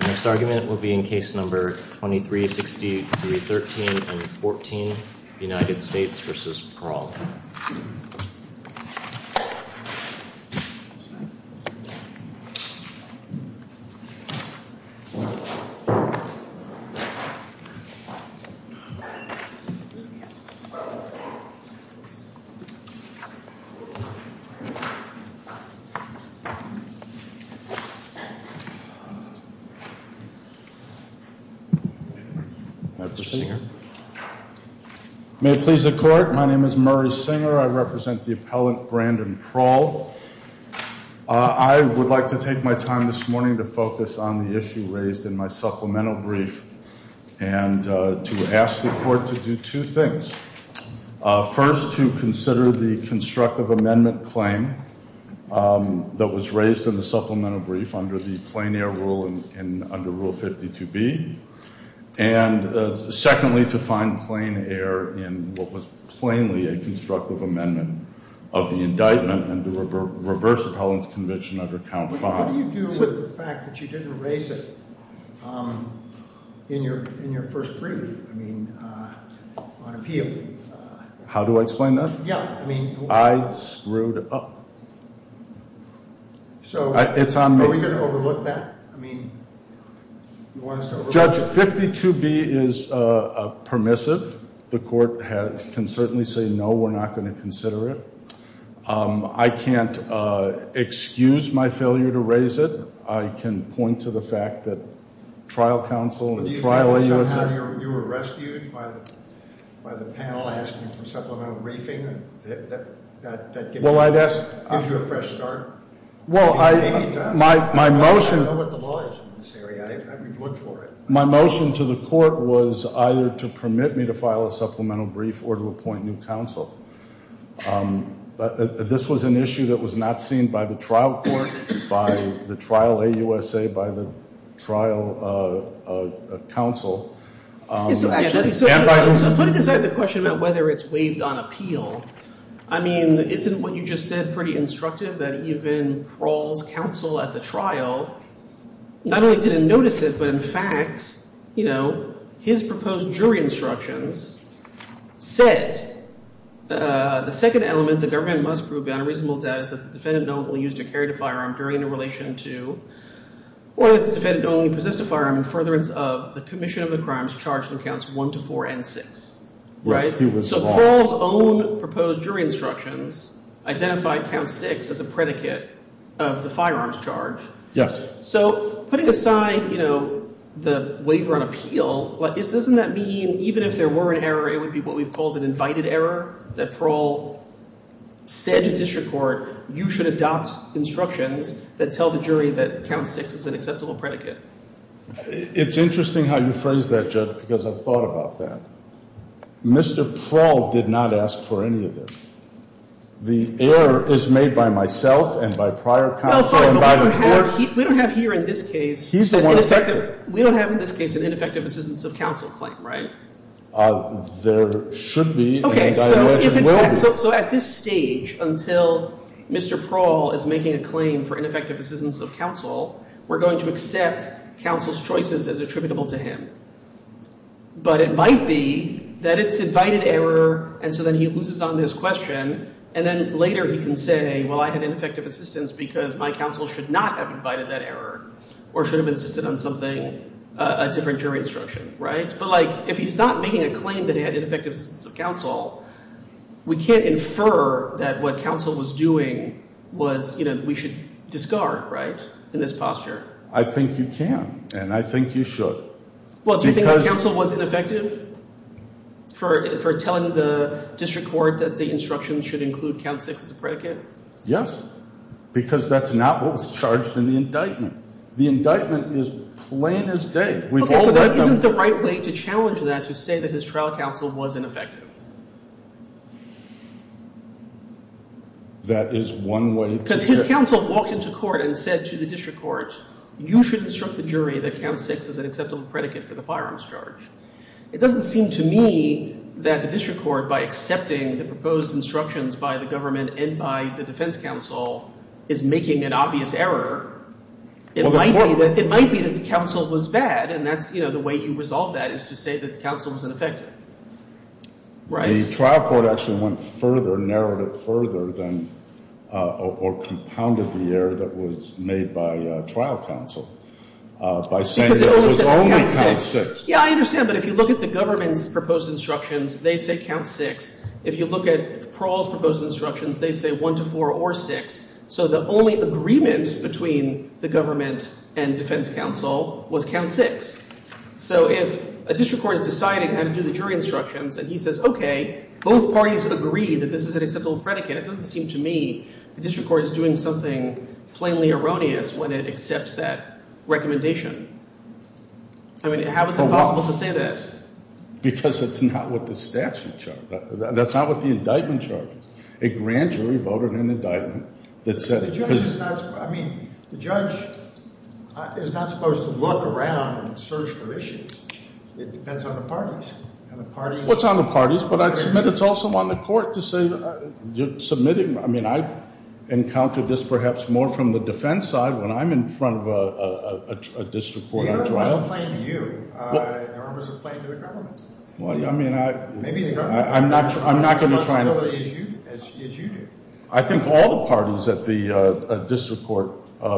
The next argument will be in case number 2363.13 and 14, United States v. Prawl. May it please the court, my name is Murray Singer. I represent the appellant Brandon Prawl. I would like to take my time this morning to focus on the issue raised in my supplemental brief and to ask the court to do two things. First, to consider the constructive amendment claim that was raised in the supplemental brief under the plain air rule and under rule 52B. And secondly, to find plain air in what was plainly a constructive amendment of the indictment and to reverse appellant's conviction under count five. What do you do with the fact that you didn't raise it in your first brief on appeal? How do I explain that? I screwed up. So are we going to overlook that? Judge, 52B is permissive. The court can certainly say no, we're not going to consider it. I can't excuse my failure to raise it. I can point to the fact that trial counsel and trial lawyers... But do you think somehow you were rescued by the panel asking for supplemental briefing? Well, I'd ask... Gives you a fresh start. Well, my motion... I don't know what the law is in this area. I would look for it. My motion to the court was either to permit me to file a supplemental brief or to appoint new counsel. This was an issue that was not seen by the trial court, by the trial AUSA, by the trial counsel. So putting aside the question about whether it's waived on appeal, I mean, isn't what you just said pretty instructive? I think that even Prawl's counsel at the trial not only didn't notice it, but in fact, you know, his proposed jury instructions said the second element, the government must prove beyond a reasonable doubt that the defendant not only used or carried a firearm during a relation to, or that the defendant not only possessed a firearm in furtherance of the commission of the crimes charged in counts one to four and six. So Prawl's own proposed jury instructions identified count six as a predicate of the firearms charge. Yes. So putting aside, you know, the waiver on appeal, doesn't that mean even if there were an error, it would be what we've called an invited error that Prawl said to district court, you should adopt instructions that tell the jury that count six is an acceptable predicate? It's interesting how you phrase that, Judge, because I've thought about that. Mr. Prawl did not ask for any of this. The error is made by myself and by prior counsel invited here. We don't have here in this case. He's the one effective. We don't have in this case an ineffective assistance of counsel claim, right? There should be and I imagine will be. So at this stage, until Mr. Prawl is making a claim for ineffective assistance of counsel, we're going to accept counsel's choices as attributable to him. But it might be that it's invited error, and so then he loses on this question, and then later he can say, well, I had ineffective assistance because my counsel should not have invited that error or should have insisted on something, a different jury instruction, right? But, like, if he's not making a claim that he had ineffective assistance of counsel, we can't infer that what counsel was doing was, you know, we should discard, right, in this posture. I think you can, and I think you should. Well, do you think counsel was ineffective for telling the district court that the instructions should include count six as a predicate? Yes, because that's not what was charged in the indictment. The indictment is plain as day. Okay, so that isn't the right way to challenge that to say that his trial counsel was ineffective. That is one way. Because his counsel walked into court and said to the district court, you should instruct the jury that count six is an acceptable predicate for the firearms charge. It doesn't seem to me that the district court, by accepting the proposed instructions by the government and by the defense counsel, is making an obvious error. It might be that the counsel was bad, and that's, you know, the way you resolve that is to say that the counsel was ineffective. Right? The trial court actually went further, narrowed it further, or compounded the error that was made by trial counsel by saying that it was only count six. Yeah, I understand. But if you look at the government's proposed instructions, they say count six. If you look at Parole's proposed instructions, they say one to four or six. So the only agreement between the government and defense counsel was count six. So if a district court is deciding how to do the jury instructions, and he says, okay, both parties agree that this is an acceptable predicate, it doesn't seem to me the district court is doing something plainly erroneous when it accepts that recommendation. I mean, how is it possible to say that? Because it's not what the statute charges. That's not what the indictment charges. A grand jury voted an indictment that said it was. I mean, the judge is not supposed to look around and search for issues. It depends on the parties. Well, it's on the parties, but I'd submit it's also on the court to say that you're submitting. I mean, I encountered this perhaps more from the defense side when I'm in front of a district court on trial. The error was a play to you. The error was a play to the government. Well, I mean, I'm not going to try and. Well, as you do. I think all the parties at the district court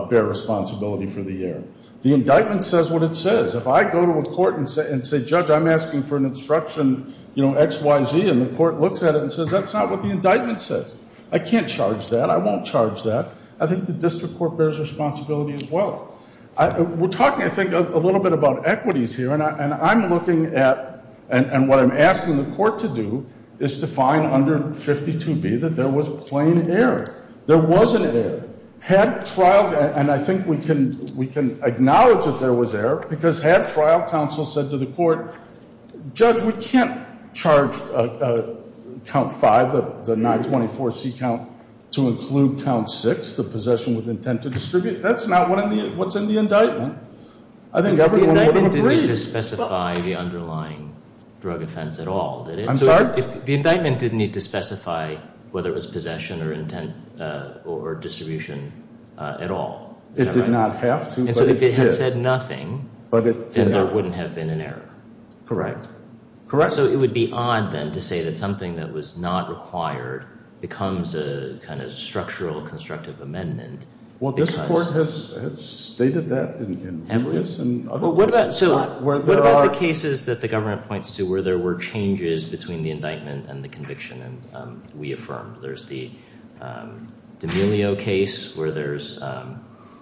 bear responsibility for the error. The indictment says what it says. If I go to a court and say, judge, I'm asking for an instruction X, Y, Z, and the court looks at it and says that's not what the indictment says, I can't charge that, I won't charge that. I think the district court bears responsibility as well. We're talking, I think, a little bit about equities here, and I'm looking at And what I'm asking the court to do is to find under 52B that there was plain error. There wasn't error. Had trial, and I think we can acknowledge that there was error, because had trial counsel said to the court, judge, we can't charge count five, the 924C count, to include count six, the possession with intent to distribute. That's not what's in the indictment. I think everyone would have agreed. The indictment didn't need to specify the underlying drug offense at all, did it? I'm sorry? The indictment didn't need to specify whether it was possession or intent or distribution at all. It did not have to, but it did. And so if it had said nothing, then there wouldn't have been an error. Correct. Correct? So it would be odd, then, to say that something that was not required becomes a kind of structural, constructive amendment. Well, this court has stated that in various other cases. So what about the cases that the government points to where there were changes between the indictment and the conviction and we affirmed? There's the D'Amelio case where there's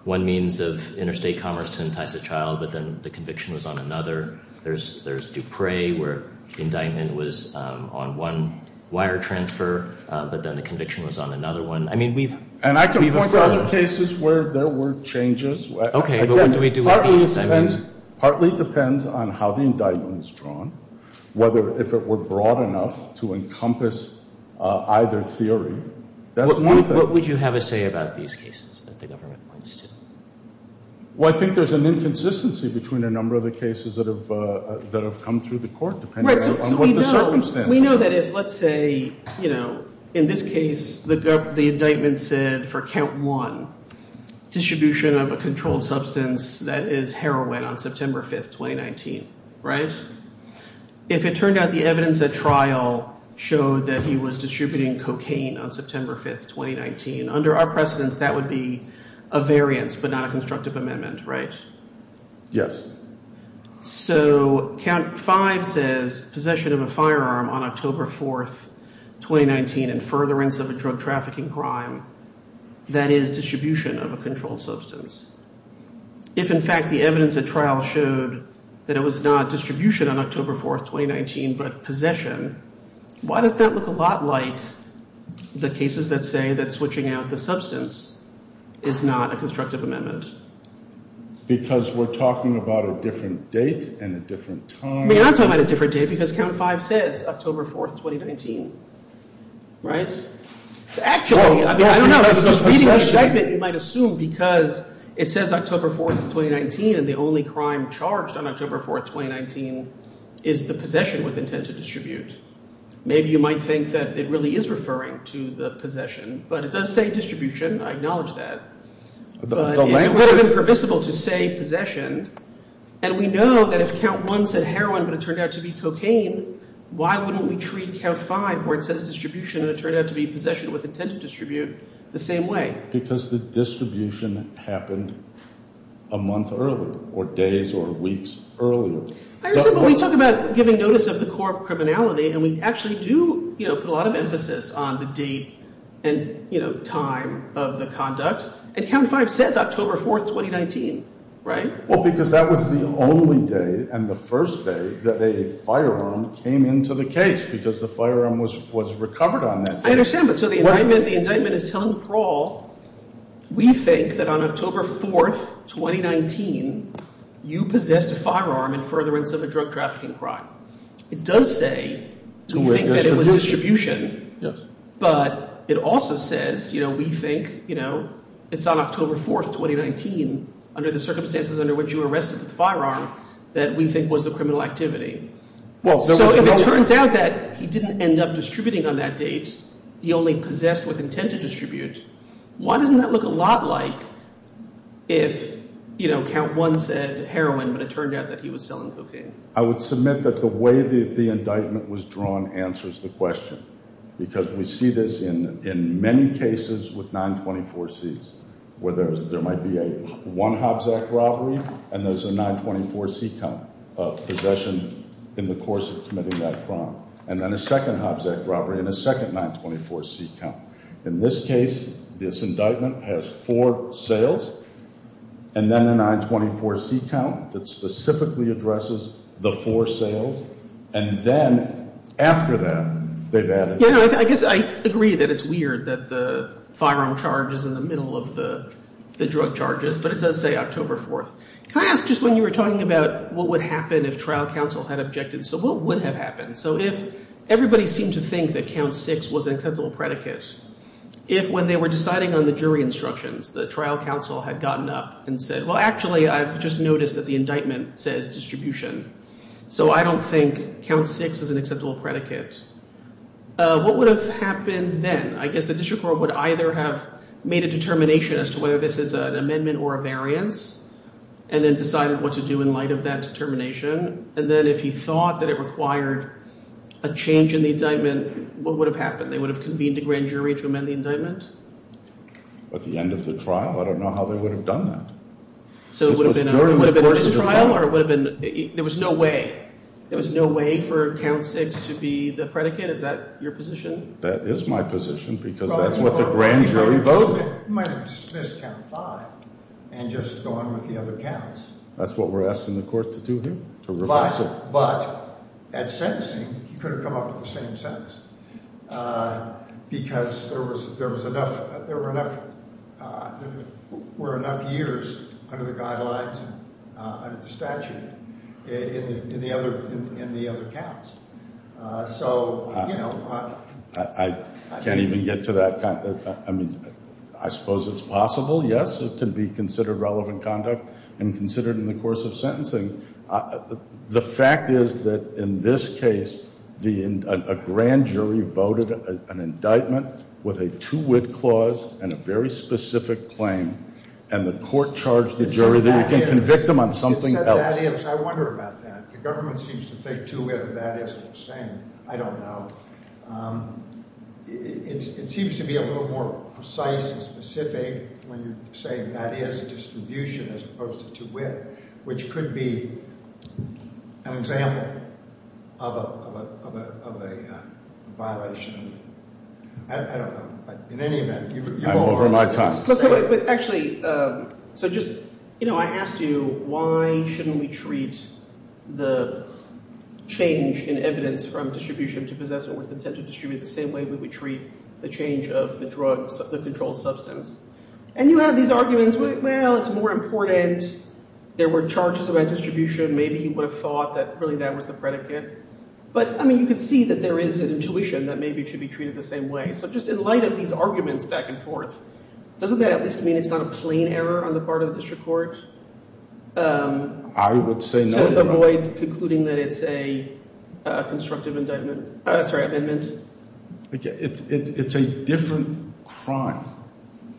one means of interstate commerce to entice a child, but then the conviction was on another. There's Dupre where the indictment was on one wire transfer, but then the conviction was on another one. I mean, we've affirmed. And I can point out cases where there were changes. Okay, but what do we do with these? Partly depends on how the indictment is drawn, whether if it were broad enough to encompass either theory. That's one thing. What would you have to say about these cases that the government points to? Well, I think there's an inconsistency between a number of the cases that have come through the court, depending on what the circumstances are. We know that if, let's say, you know, in this case, the indictment said for count one, distribution of a controlled substance that is heroin on September 5th, 2019, right? If it turned out the evidence at trial showed that he was distributing cocaine on September 5th, 2019, under our precedence, that would be a variance, but not a constructive amendment, right? Yes. So count five says possession of a firearm on October 4th, 2019, and furtherance of a drug trafficking crime that is distribution of a controlled substance. If, in fact, the evidence at trial showed that it was not distribution on October 4th, 2019, but possession, why does that look a lot like the cases that say that switching out the substance is not a constructive amendment? Because we're talking about a different date and a different time. We're not talking about a different date because count five says October 4th, 2019, right? Actually, I don't know. Just reading the indictment, you might assume because it says October 4th, 2019, and the only crime charged on October 4th, 2019 is the possession with intent to distribute. Maybe you might think that it really is referring to the possession, but it does say distribution. I acknowledge that. But it would have been permissible to say possession, and we know that if count one said heroin but it turned out to be cocaine, why wouldn't we treat count five where it says distribution and it turned out to be possession with intent to distribute the same way? Because the distribution happened a month earlier or days or weeks earlier. I understand, but we talk about giving notice of the core of criminality, and we actually do put a lot of emphasis on the date and time of the conduct. And count five says October 4th, 2019, right? Well, because that was the only day and the first day that a firearm came into the case because the firearm was recovered on that day. I understand, but so the indictment is telling parole, we think that on October 4th, 2019, you possessed a firearm in furtherance of a drug trafficking crime. It does say we think that it was distribution, but it also says we think it's on October 4th, 2019, under the circumstances under which you were arrested with the firearm, that we think was the criminal activity. So if it turns out that he didn't end up distributing on that date, he only possessed with intent to distribute, why doesn't that look a lot like if count one said heroin but it turned out that he was selling cocaine? I would submit that the way that the indictment was drawn answers the question. Because we see this in many cases with 924Cs, where there might be a one Hobbs Act robbery and there's a 924C count of possession in the course of committing that crime. And then a second Hobbs Act robbery and a second 924C count. In this case, this indictment has four sales and then a 924C count that specifically addresses the four sales. And then after that, they've added. I guess I agree that it's weird that the firearm charge is in the middle of the drug charges, but it does say October 4th. Can I ask just when you were talking about what would happen if trial counsel had objected, so what would have happened? So if everybody seemed to think that count six was an acceptable predicate, if when they were deciding on the jury instructions, the trial counsel had gotten up and said, well, actually, I've just noticed that the indictment says distribution. So I don't think count six is an acceptable predicate. What would have happened then? I guess the district court would either have made a determination as to whether this is an amendment or a variance and then decided what to do in light of that determination. And then if he thought that it required a change in the indictment, what would have happened? They would have convened a grand jury to amend the indictment? At the end of the trial? I don't know how they would have done that. So it would have been a trial or it would have been there was no way. There was no way for count six to be the predicate. Is that your position? That is my position because that's what the grand jury voted. You might have dismissed count five and just gone with the other counts. That's what we're asking the court to do here? But at sentencing, he could have come up with the same sentence because there were enough years under the guidelines, under the statute, in the other counts. So, you know. I can't even get to that. I mean, I suppose it's possible, yes. It can be considered relevant conduct and considered in the course of sentencing. The fact is that in this case, a grand jury voted an indictment with a two-wit clause and a very specific claim. And the court charged the jury that you can convict them on something else. It said that is. I wonder about that. The government seems to think two-wit or that is is the same. I don't know. It seems to be a little more precise and specific when you're saying that is distribution as opposed to two-wit, which could be an example of a violation. I don't know. In any event. I'm over my time. But actually, so just, you know, I asked you why shouldn't we treat the change in evidence from distribution to possession with intent to distribute the same way we would treat the change of the drug, the controlled substance. And you have these arguments. Well, it's more important. There were charges about distribution. Maybe you would have thought that really that was the predicate. But, I mean, you could see that there is an intuition that maybe it should be treated the same way. So just in light of these arguments back and forth, doesn't that at least mean it's not a plain error on the part of the district court? I would say no. To avoid concluding that it's a constructive indictment. Sorry, amendment. It's a different crime.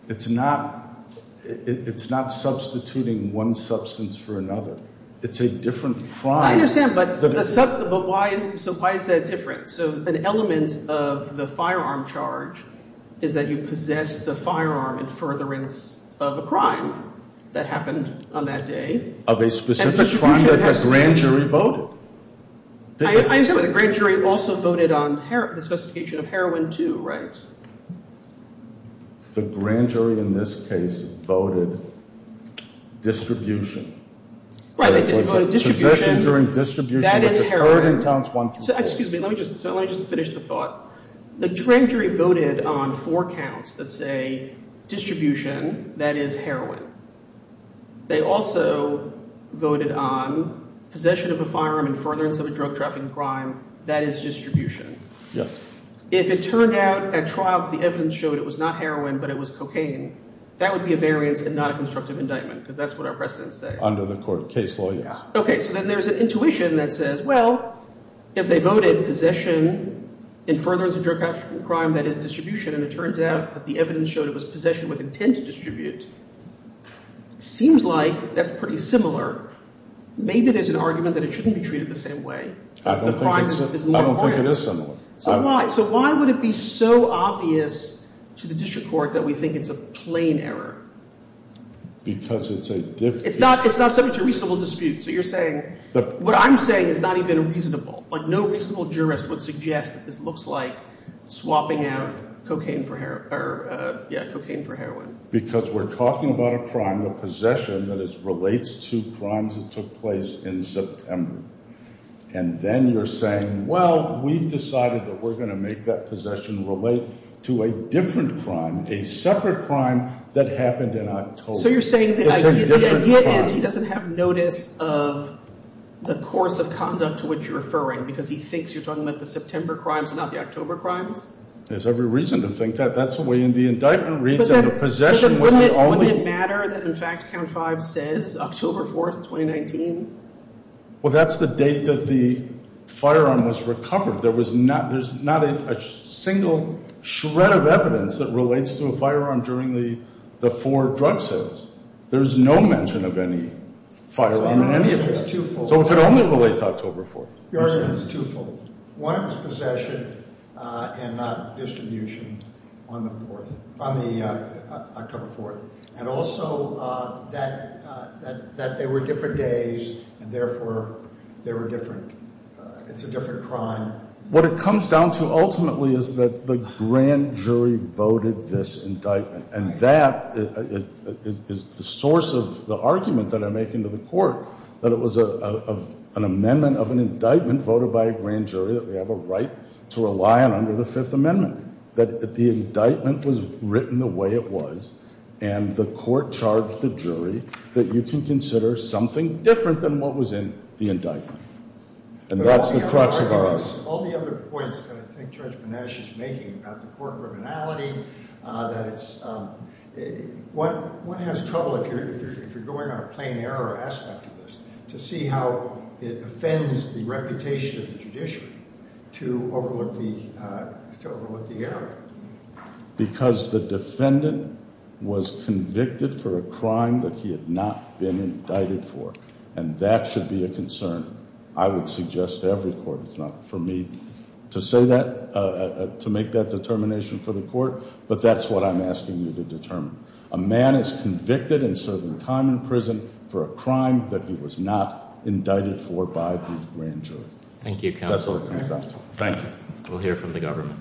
It's not substituting one substance for another. It's a different crime. I understand. But why is that different? So an element of the firearm charge is that you possess the firearm in furtherance of a crime that happened on that day. Of a specific crime that the grand jury voted. I understand, but the grand jury also voted on the specification of heroin, too, right? The grand jury in this case voted distribution. Right, they voted distribution. That is heroin. Excuse me, let me just finish the thought. The grand jury voted on four counts that say distribution, that is heroin. They also voted on possession of a firearm in furtherance of a drug trafficking crime, that is distribution. If it turned out at trial that the evidence showed it was not heroin but it was cocaine, that would be a variance and not a constructive indictment because that's what our precedents say. Under the court case law, yes. Okay, so then there's an intuition that says, well, if they voted possession in furtherance of drug trafficking crime, that is distribution, and it turns out that the evidence showed it was possession with intent to distribute. Seems like that's pretty similar. Maybe there's an argument that it shouldn't be treated the same way. I don't think it is similar. So why? So why would it be so obvious to the district court that we think it's a plain error? Because it's a – It's not so much a reasonable dispute. So you're saying – what I'm saying is not even reasonable. Like no reasonable jurist would suggest that this looks like swapping out cocaine for – yeah, cocaine for heroin. Because we're talking about a crime, a possession that relates to crimes that took place in September. And then you're saying, well, we've decided that we're going to make that possession relate to a different crime, a separate crime that happened in October. So you're saying the idea is he doesn't have notice of the course of conduct to which you're referring because he thinks you're talking about the September crimes and not the October crimes? There's every reason to think that. That's the way the indictment reads and the possession was the only – But then wouldn't it matter that in fact count five says October 4th, 2019? Well, that's the date that the firearm was recovered. There was not – there's not a single shred of evidence that relates to a firearm during the four drug sales. There's no mention of any firearm in any of them. So it could only relate to October 4th. Your argument is twofold. One, it was possession and not distribution on the 4th – on the October 4th. And also that they were different days and therefore they were different – it's a different crime. What it comes down to ultimately is that the grand jury voted this indictment. And that is the source of the argument that I make into the court, that it was an amendment of an indictment voted by a grand jury that we have a right to rely on under the Fifth Amendment. That the indictment was written the way it was and the court charged the jury that you can consider something different than what was in the indictment. And that's the crux of our argument. I think Judge Benesh is making about the court criminality. That it's – one has trouble if you're going on a plain error aspect of this to see how it offends the reputation of the judiciary to overlook the error. Because the defendant was convicted for a crime that he had not been indicted for. And that should be a concern. I would suggest to every court – it's not for me to say that – to make that determination for the court. But that's what I'm asking you to determine. A man is convicted in certain time in prison for a crime that he was not indicted for by the grand jury. Thank you, Counselor. Thank you. We'll hear from the government.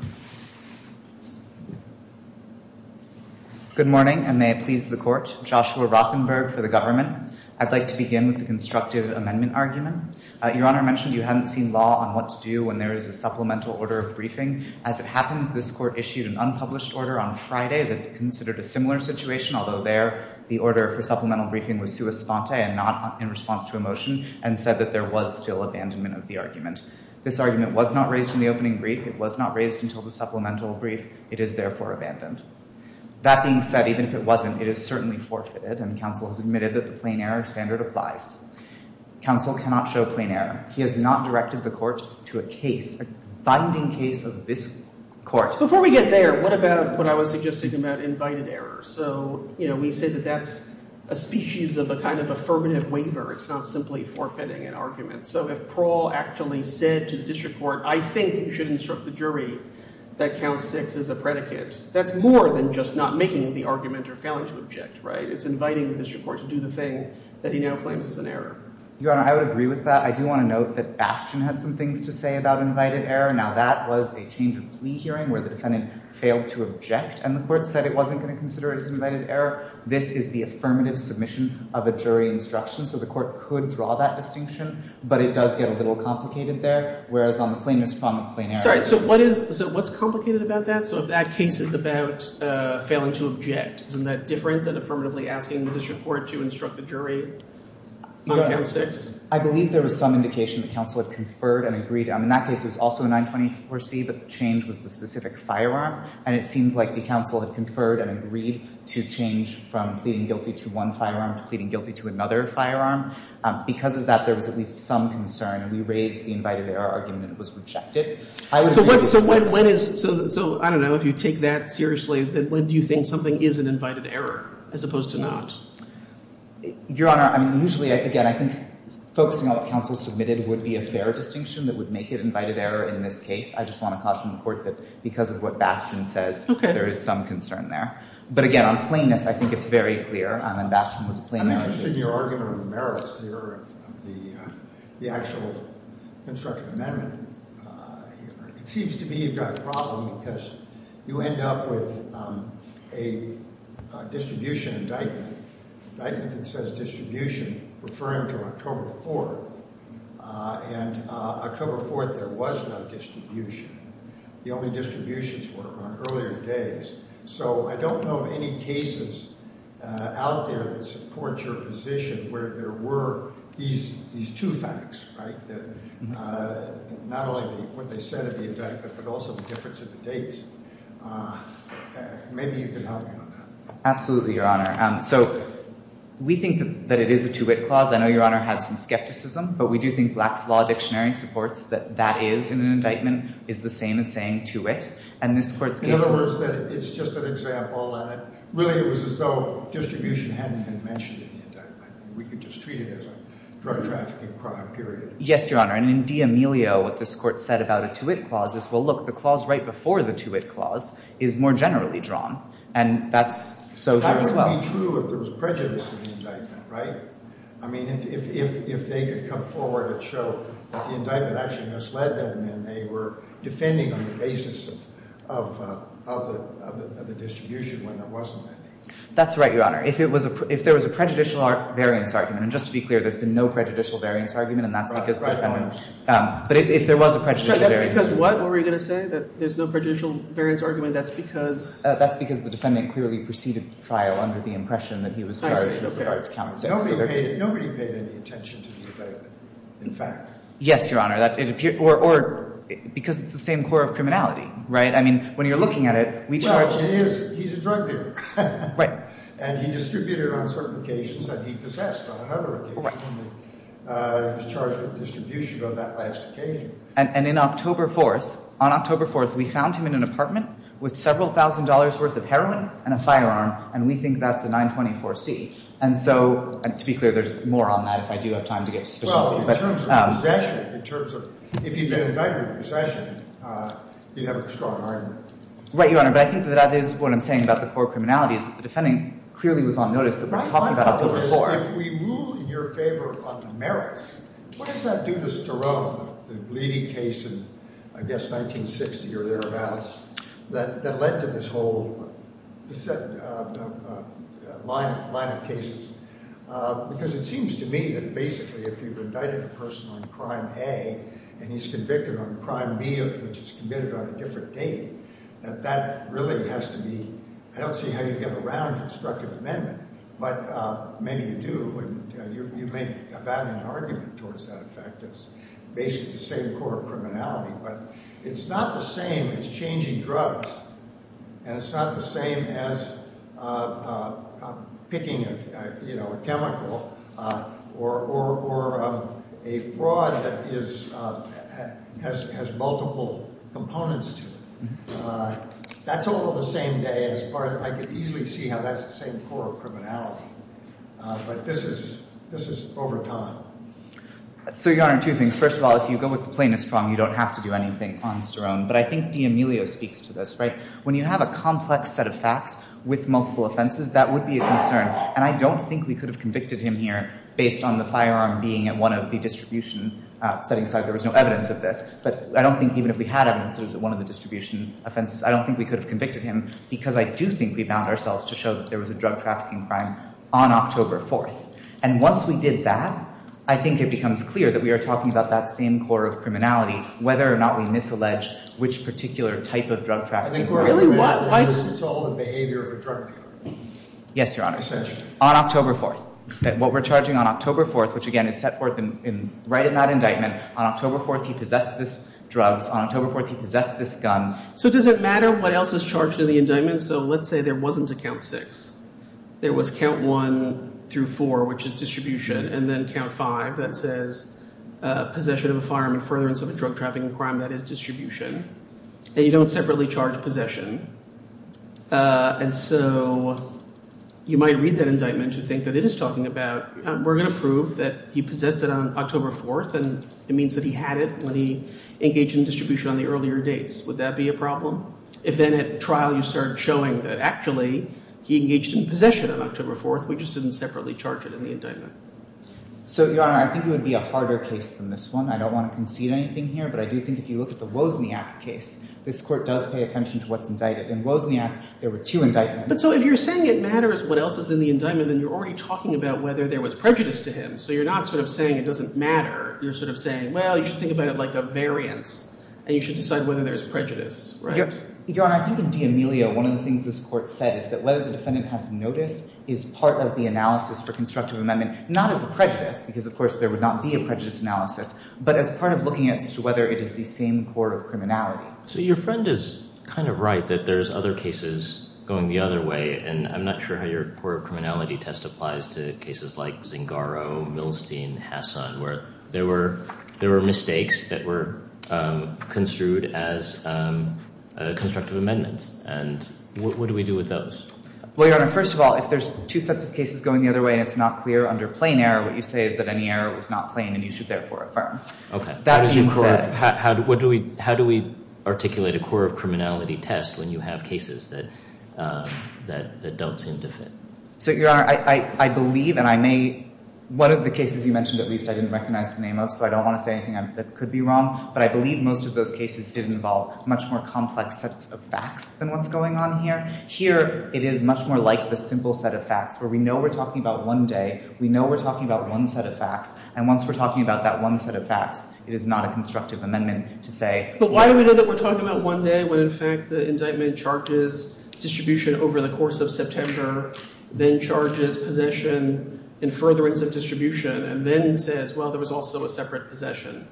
Good morning and may it please the court. Joshua Rothenberg for the government. I'd like to begin with the constructive amendment argument. Your Honor mentioned you hadn't seen law on what to do when there is a supplemental order of briefing. As it happens, this court issued an unpublished order on Friday that considered a similar situation. Although there the order for supplemental briefing was sua sponte and not in response to a motion. And said that there was still abandonment of the argument. This argument was not raised in the opening brief. It was not raised until the supplemental brief. It is therefore abandoned. That being said, even if it wasn't, it is certainly forfeited. And counsel has admitted that the plain error standard applies. Counsel cannot show plain error. He has not directed the court to a case, a binding case of this court. Before we get there, what about what I was suggesting about invited error? So, you know, we say that that's a species of a kind of affirmative waiver. It's not simply forfeiting an argument. So if Prawl actually said to the district court, I think you should instruct the jury that count six is a predicate. That's more than just not making the argument or failing to object, right? It's inviting the district court to do the thing that he now claims is an error. Your Honor, I would agree with that. I do want to note that Ashton had some things to say about invited error. Now that was a change of plea hearing where the defendant failed to object. And the court said it wasn't going to consider it as invited error. This is the affirmative submission of a jury instruction. So the court could draw that distinction. But it does get a little complicated there. Whereas on the plaintiff's front, the plain error— Sorry, so what is—so what's complicated about that? So if that case is about failing to object, isn't that different than affirmatively asking? Asking the district court to instruct the jury on count six? I believe there was some indication that counsel had conferred and agreed. In that case, it was also a 924C, but the change was the specific firearm. And it seems like the counsel had conferred and agreed to change from pleading guilty to one firearm to pleading guilty to another firearm. Because of that, there was at least some concern, and we raised the invited error argument. It was rejected. So when is—so, I don't know, if you take that seriously, when do you think something is an invited error as opposed to not? Your Honor, I mean, usually, again, I think focusing on what counsel submitted would be a fair distinction that would make it invited error in this case. I just want to caution the court that because of what Bastian says, there is some concern there. But again, on plainness, I think it's very clear. I mean, Bastian was a plain error. I'm interested in your argument on the merits here of the actual constructive amendment. It seems to me you've got a problem because you end up with a distribution indictment. The indictment says distribution referring to October 4th, and October 4th, there was no distribution. The only distributions were on earlier days. So I don't know of any cases out there that support your position where there were these two facts, right? Not only what they said at the indictment, but also the difference of the dates. Maybe you can help me on that. Absolutely, Your Honor. So we think that it is a to-wit clause. I know Your Honor had some skepticism, but we do think Black's Law Dictionary supports that that is, in an indictment, is the same as saying to-wit. In other words, it's just an example. Really, it was as though distribution hadn't been mentioned in the indictment. We could just treat it as a drug-trafficking crime period. Yes, Your Honor. And in D'Amelio, what this Court said about a to-wit clause is, well, look, the clause right before the to-wit clause is more generally drawn. And that's so here as well. How would it be true if there was prejudice in the indictment, right? I mean, if they could come forward and show that the indictment actually misled them and they were defending on the basis of the distribution when there wasn't any. That's right, Your Honor. If there was a prejudicial variance argument, and just to be clear, there's been no prejudicial variance argument, and that's because the defendant— But if there was a prejudicial variance argument— That's because what were you going to say, that there's no prejudicial variance argument? That's because— That's because the defendant clearly preceded the trial under the impression that he was charged with regard to count six. Nobody paid any attention to the indictment, in fact. Yes, Your Honor. Or because it's the same core of criminality, right? I mean, when you're looking at it, we charge— Well, he's a drug dealer. Right. And he distributed on certain occasions that he possessed. On another occasion, he was charged with distribution of that last occasion. And in October 4th, on October 4th, we found him in an apartment with several thousand dollars' worth of heroin and a firearm, and we think that's a 924C. And so, to be clear, there's more on that if I do have time to get to— Well, in terms of possession, in terms of—if he'd been indicted with possession, you'd have a strong argument. Right, Your Honor. But I think that that is what I'm saying about the core of criminality, is that the defendant clearly was on notice that we're talking about October 4th. Now, if we rule in your favor on the merits, what does that do to stir up the bleeding case in, I guess, 1960 or thereabouts that led to this whole line of cases? Because it seems to me that basically if you've indicted a person on Crime A and he's convicted on Crime B, which is committed on a different date, that that really has to be— I don't see how you get around a constructive amendment, but maybe you do, and you make a valid argument towards that effect. It's basically the same core of criminality, but it's not the same as changing drugs, and it's not the same as picking a chemical or a fraud that has multiple components to it. That's all on the same day as part of—I could easily see how that's the same core of criminality. But this is over time. So, Your Honor, two things. First of all, if you go with the plaintiff's prong, you don't have to do anything on Sterone. But I think D'Amelio speaks to this, right? When you have a complex set of facts with multiple offenses, that would be a concern. And I don't think we could have convicted him here based on the firearm being at one of the distribution settings, so there was no evidence of this. But I don't think even if we had evidence that it was at one of the distribution offenses, I don't think we could have convicted him because I do think we bound ourselves to show that there was a drug trafficking crime on October 4th. And once we did that, I think it becomes clear that we are talking about that same core of criminality, whether or not we misalleged which particular type of drug trafficking— I think we're really—why does this involve the behavior of a drug dealer? Yes, Your Honor. Essentially. On October 4th. What we're charging on October 4th, which again is set forth right in that indictment, on October 4th he possessed this drugs, on October 4th he possessed this gun. So does it matter what else is charged in the indictment? So let's say there wasn't a count six. There was count one through four, which is distribution, and then count five that says possession of a firearm in furtherance of a drug trafficking crime, that is distribution. And you don't separately charge possession. And so you might read that indictment to think that it is talking about we're going to prove that he possessed it on October 4th and it means that he had it when he engaged in distribution on the earlier dates. Would that be a problem? If then at trial you start showing that actually he engaged in possession on October 4th, we just didn't separately charge it in the indictment. So, Your Honor, I think it would be a harder case than this one. I don't want to concede anything here, but I do think if you look at the Wozniak case, this Court does pay attention to what's indicted. In Wozniak there were two indictments. But so if you're saying it matters what else is in the indictment, then you're already talking about whether there was prejudice to him. So you're not sort of saying it doesn't matter. You're sort of saying, well, you should think about it like a variance, and you should decide whether there's prejudice, right? Your Honor, I think in D'Amelio one of the things this Court said is that whether the defendant has notice is part of the analysis for constructive amendment. Not as a prejudice, because of course there would not be a prejudice analysis, but as part of looking as to whether it is the same court of criminality. So your friend is kind of right that there's other cases going the other way. And I'm not sure how your court of criminality test applies to cases like Zingaro, Milstein, Hassan, where there were mistakes that were construed as constructive amendments. And what do we do with those? Well, Your Honor, first of all, if there's two sets of cases going the other way, and it's not clear under plain error, what you say is that any error was not plain, and you should therefore affirm. Okay. That being said— How do we articulate a court of criminality test when you have cases that don't seem to fit? So, Your Honor, I believe, and I may—one of the cases you mentioned, at least, I didn't recognize the name of, so I don't want to say anything that could be wrong. But I believe most of those cases did involve much more complex sets of facts than what's going on here. Here, it is much more like the simple set of facts where we know we're talking about one day, we know we're talking about one set of facts, and once we're talking about that one set of facts, it is not a constructive amendment to say— But why do we know that we're talking about one day when, in fact, the indictment charges distribution over the course of September, then charges possession in furtherance of distribution, and then says, well, there was also a separate possession?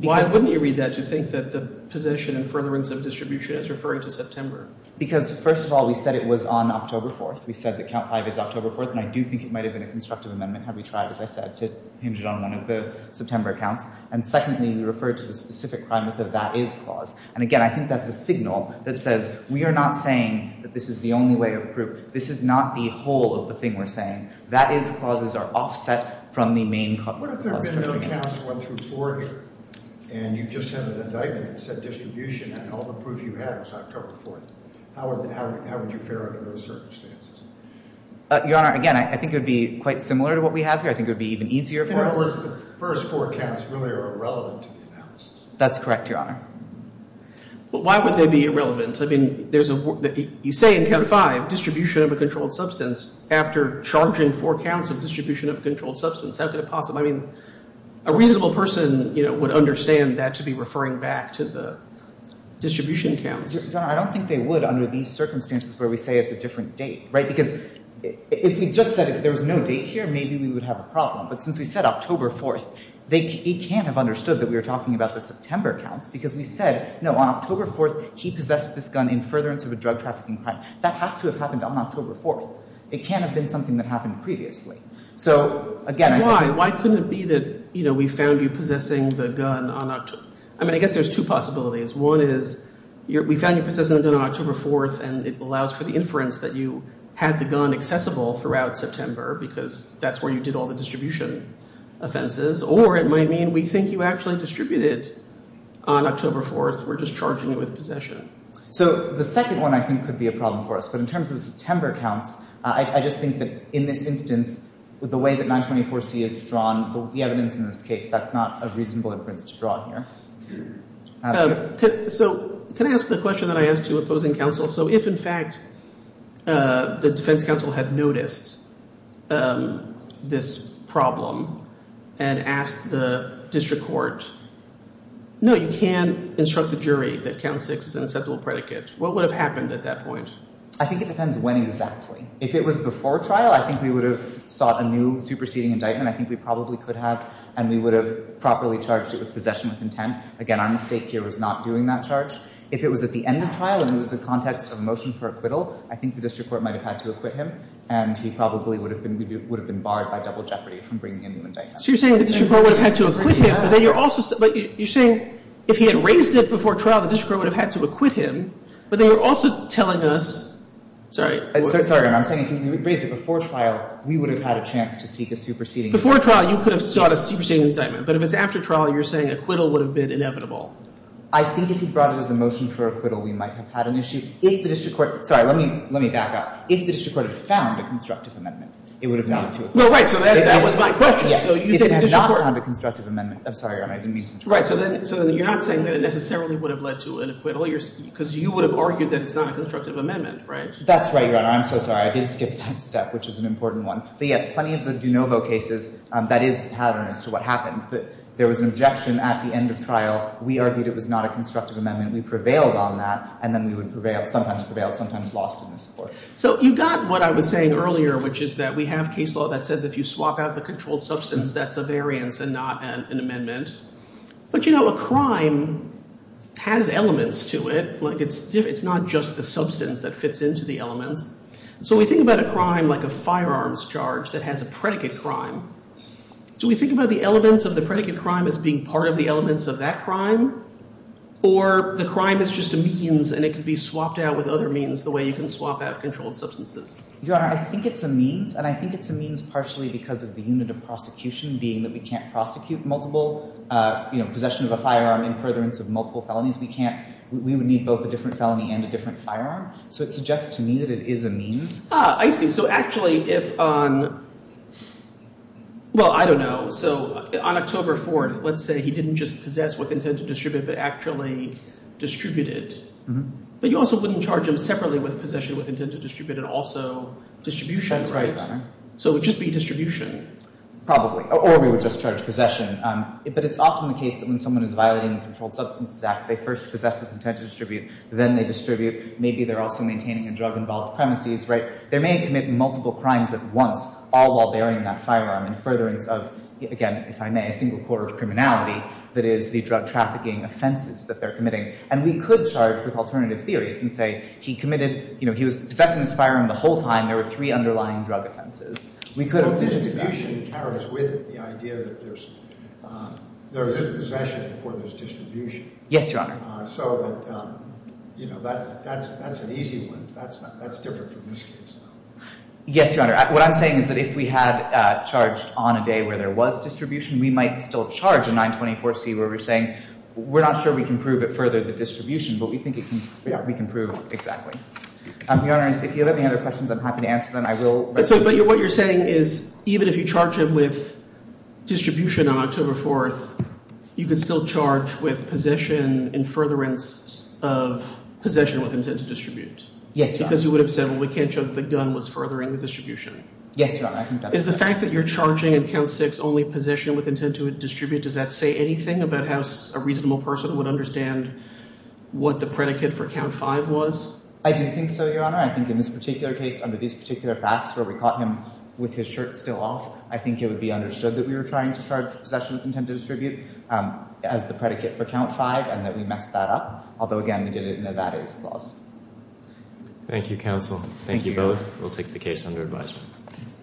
Because— Why wouldn't you read that to think that the possession in furtherance of distribution is referring to September? Because, first of all, we said it was on October 4th. We said that Count 5 is October 4th, and I do think it might have been a constructive amendment, had we tried, as I said, to hinge it on one of the September counts. And secondly, we referred to the specific crime method, that is clause. And again, I think that's a signal that says we are not saying that this is the only way of proof. This is not the whole of the thing we're saying. That is clauses are offset from the main clause. What if there had been no counts 1 through 4, and you just had an indictment that said distribution, and all the proof you had was October 4th? How would you fare under those circumstances? Your Honor, again, I think it would be quite similar to what we have here. I think it would be even easier for us— In other words, the first four counts really are irrelevant to the analysis. That's correct, Your Honor. But why would they be irrelevant? I mean, there's a—you say in Count 5 distribution of a controlled substance. After charging four counts of distribution of a controlled substance, how could it possibly— I mean, a reasonable person would understand that to be referring back to the distribution counts. Your Honor, I don't think they would under these circumstances where we say it's a different date, right? Because if we just said there was no date here, maybe we would have a problem. But since we said October 4th, he can't have understood that we were talking about the September counts because we said, no, on October 4th, he possessed this gun in furtherance of a drug trafficking crime. That has to have happened on October 4th. It can't have been something that happened previously. So, again— Why? Why couldn't it be that, you know, we found you possessing the gun on—I mean, I guess there's two possibilities. One is we found you possessing the gun on October 4th, and it allows for the inference that you had the gun accessible throughout September because that's where you did all the distribution offenses. Or it might mean we think you actually distributed on October 4th. We're just charging you with possession. So the second one, I think, could be a problem for us. But in terms of the September counts, I just think that in this instance, the way that 924C is drawn, the evidence in this case, that's not a reasonable inference to draw here. So can I ask the question that I asked you opposing counsel? So if, in fact, the defense counsel had noticed this problem and asked the district court, no, you can instruct the jury that count 6 is an acceptable predicate, what would have happened at that point? I think it depends when exactly. If it was before trial, I think we would have sought a new superseding indictment. I think we probably could have, and we would have properly charged it with possession with intent. Again, our mistake here was not doing that charge. If it was at the end of trial and it was the context of a motion for acquittal, I think the district court might have had to acquit him, and he probably would have been barred by double jeopardy from bringing a new indictment. So you're saying the district court would have had to acquit him. Yes. But you're saying if he had raised it before trial, the district court would have had to acquit him. But then you're also telling us, sorry. I'm sorry, Your Honor. I'm saying if he had raised it before trial, we would have had a chance to seek a superseding indictment. Before trial, you could have sought a superseding indictment. But if it's after trial, you're saying acquittal would have been inevitable. I think if he brought it as a motion for acquittal, we might have had an issue. If the district court, sorry, let me back up. If the district court had found a constructive amendment, it would have gone to acquittal. Well, right. So that was my question. If it had not found a constructive amendment. I'm sorry, Your Honor. I didn't mean to interrupt. Right. So you're not saying that it necessarily would have led to an acquittal. Because you would have argued that it's not a constructive amendment, right? That's right, Your Honor. I'm so sorry. I did skip that step, which is an important one. But, yes, plenty of the de novo cases, that is the pattern as to what happened. There was an objection at the end of trial. We argued it was not a constructive amendment. We prevailed on that. And then we would prevail, sometimes prevail, sometimes lost in this court. So you got what I was saying earlier, which is that we have case law that says if you swap out the controlled substance, that's a variance and not an amendment. But, you know, a crime has elements to it. Like, it's not just the substance that fits into the elements. So we think about a crime like a firearms charge that has a predicate crime. Do we think about the elements of the predicate crime as being part of the elements of that crime? Or the crime is just a means and it can be swapped out with other means the way you can swap out controlled substances? Your Honor, I think it's a means. And I think it's a means partially because of the unit of prosecution being that we can't prosecute multiple, you know, possession of a firearm in furtherance of multiple felonies. We can't. We would need both a different felony and a different firearm. So it suggests to me that it is a means. Ah, I see. So actually if on – well, I don't know. So on October 4th, let's say he didn't just possess with intent to distribute but actually distributed. But you also wouldn't charge him separately with possession with intent to distribute and also distribution, right? That's right, Your Honor. So it would just be distribution. Probably. Or we would just charge possession. But it's often the case that when someone is violating the Controlled Substances Act, they first possess with intent to distribute. Then they distribute. Maybe they're also maintaining a drug-involved premises, right? So they may commit multiple crimes at once all while bearing that firearm in furtherance of, again, if I may, a single court of criminality. That is, the drug-trafficking offenses that they're committing. And we could charge with alternative theories and say he committed – you know, he was possessing this firearm the whole time. There were three underlying drug offenses. We could – Well, distribution carries with it the idea that there's possession before there's distribution. Yes, Your Honor. So that's an easy one. That's different from this case, though. Yes, Your Honor. What I'm saying is that if we had charged on a day where there was distribution, we might still charge a 924C where we're saying we're not sure we can prove it further, the distribution. But we think we can prove – Your Honor, if you have any other questions, I'm happy to answer them. But what you're saying is even if you charge him with distribution on October 4th, you can still charge with possession in furtherance of possession with intent to distribute. Yes, Your Honor. Because you would have said, well, we can't show that the gun was furthering the distribution. Yes, Your Honor. I think that's right. Is the fact that you're charging in Count 6 only possession with intent to distribute, does that say anything about how a reasonable person would understand what the predicate for Count 5 was? I do think so, Your Honor. I think in this particular case, under these particular facts where we caught him with his shirt still off, I think it would be understood that we were trying to charge possession with intent to distribute as the predicate for Count 5 and that we messed that up. Although, again, we did it in a that-is clause. Thank you, counsel. Thank you, both. We'll take the case under advisement.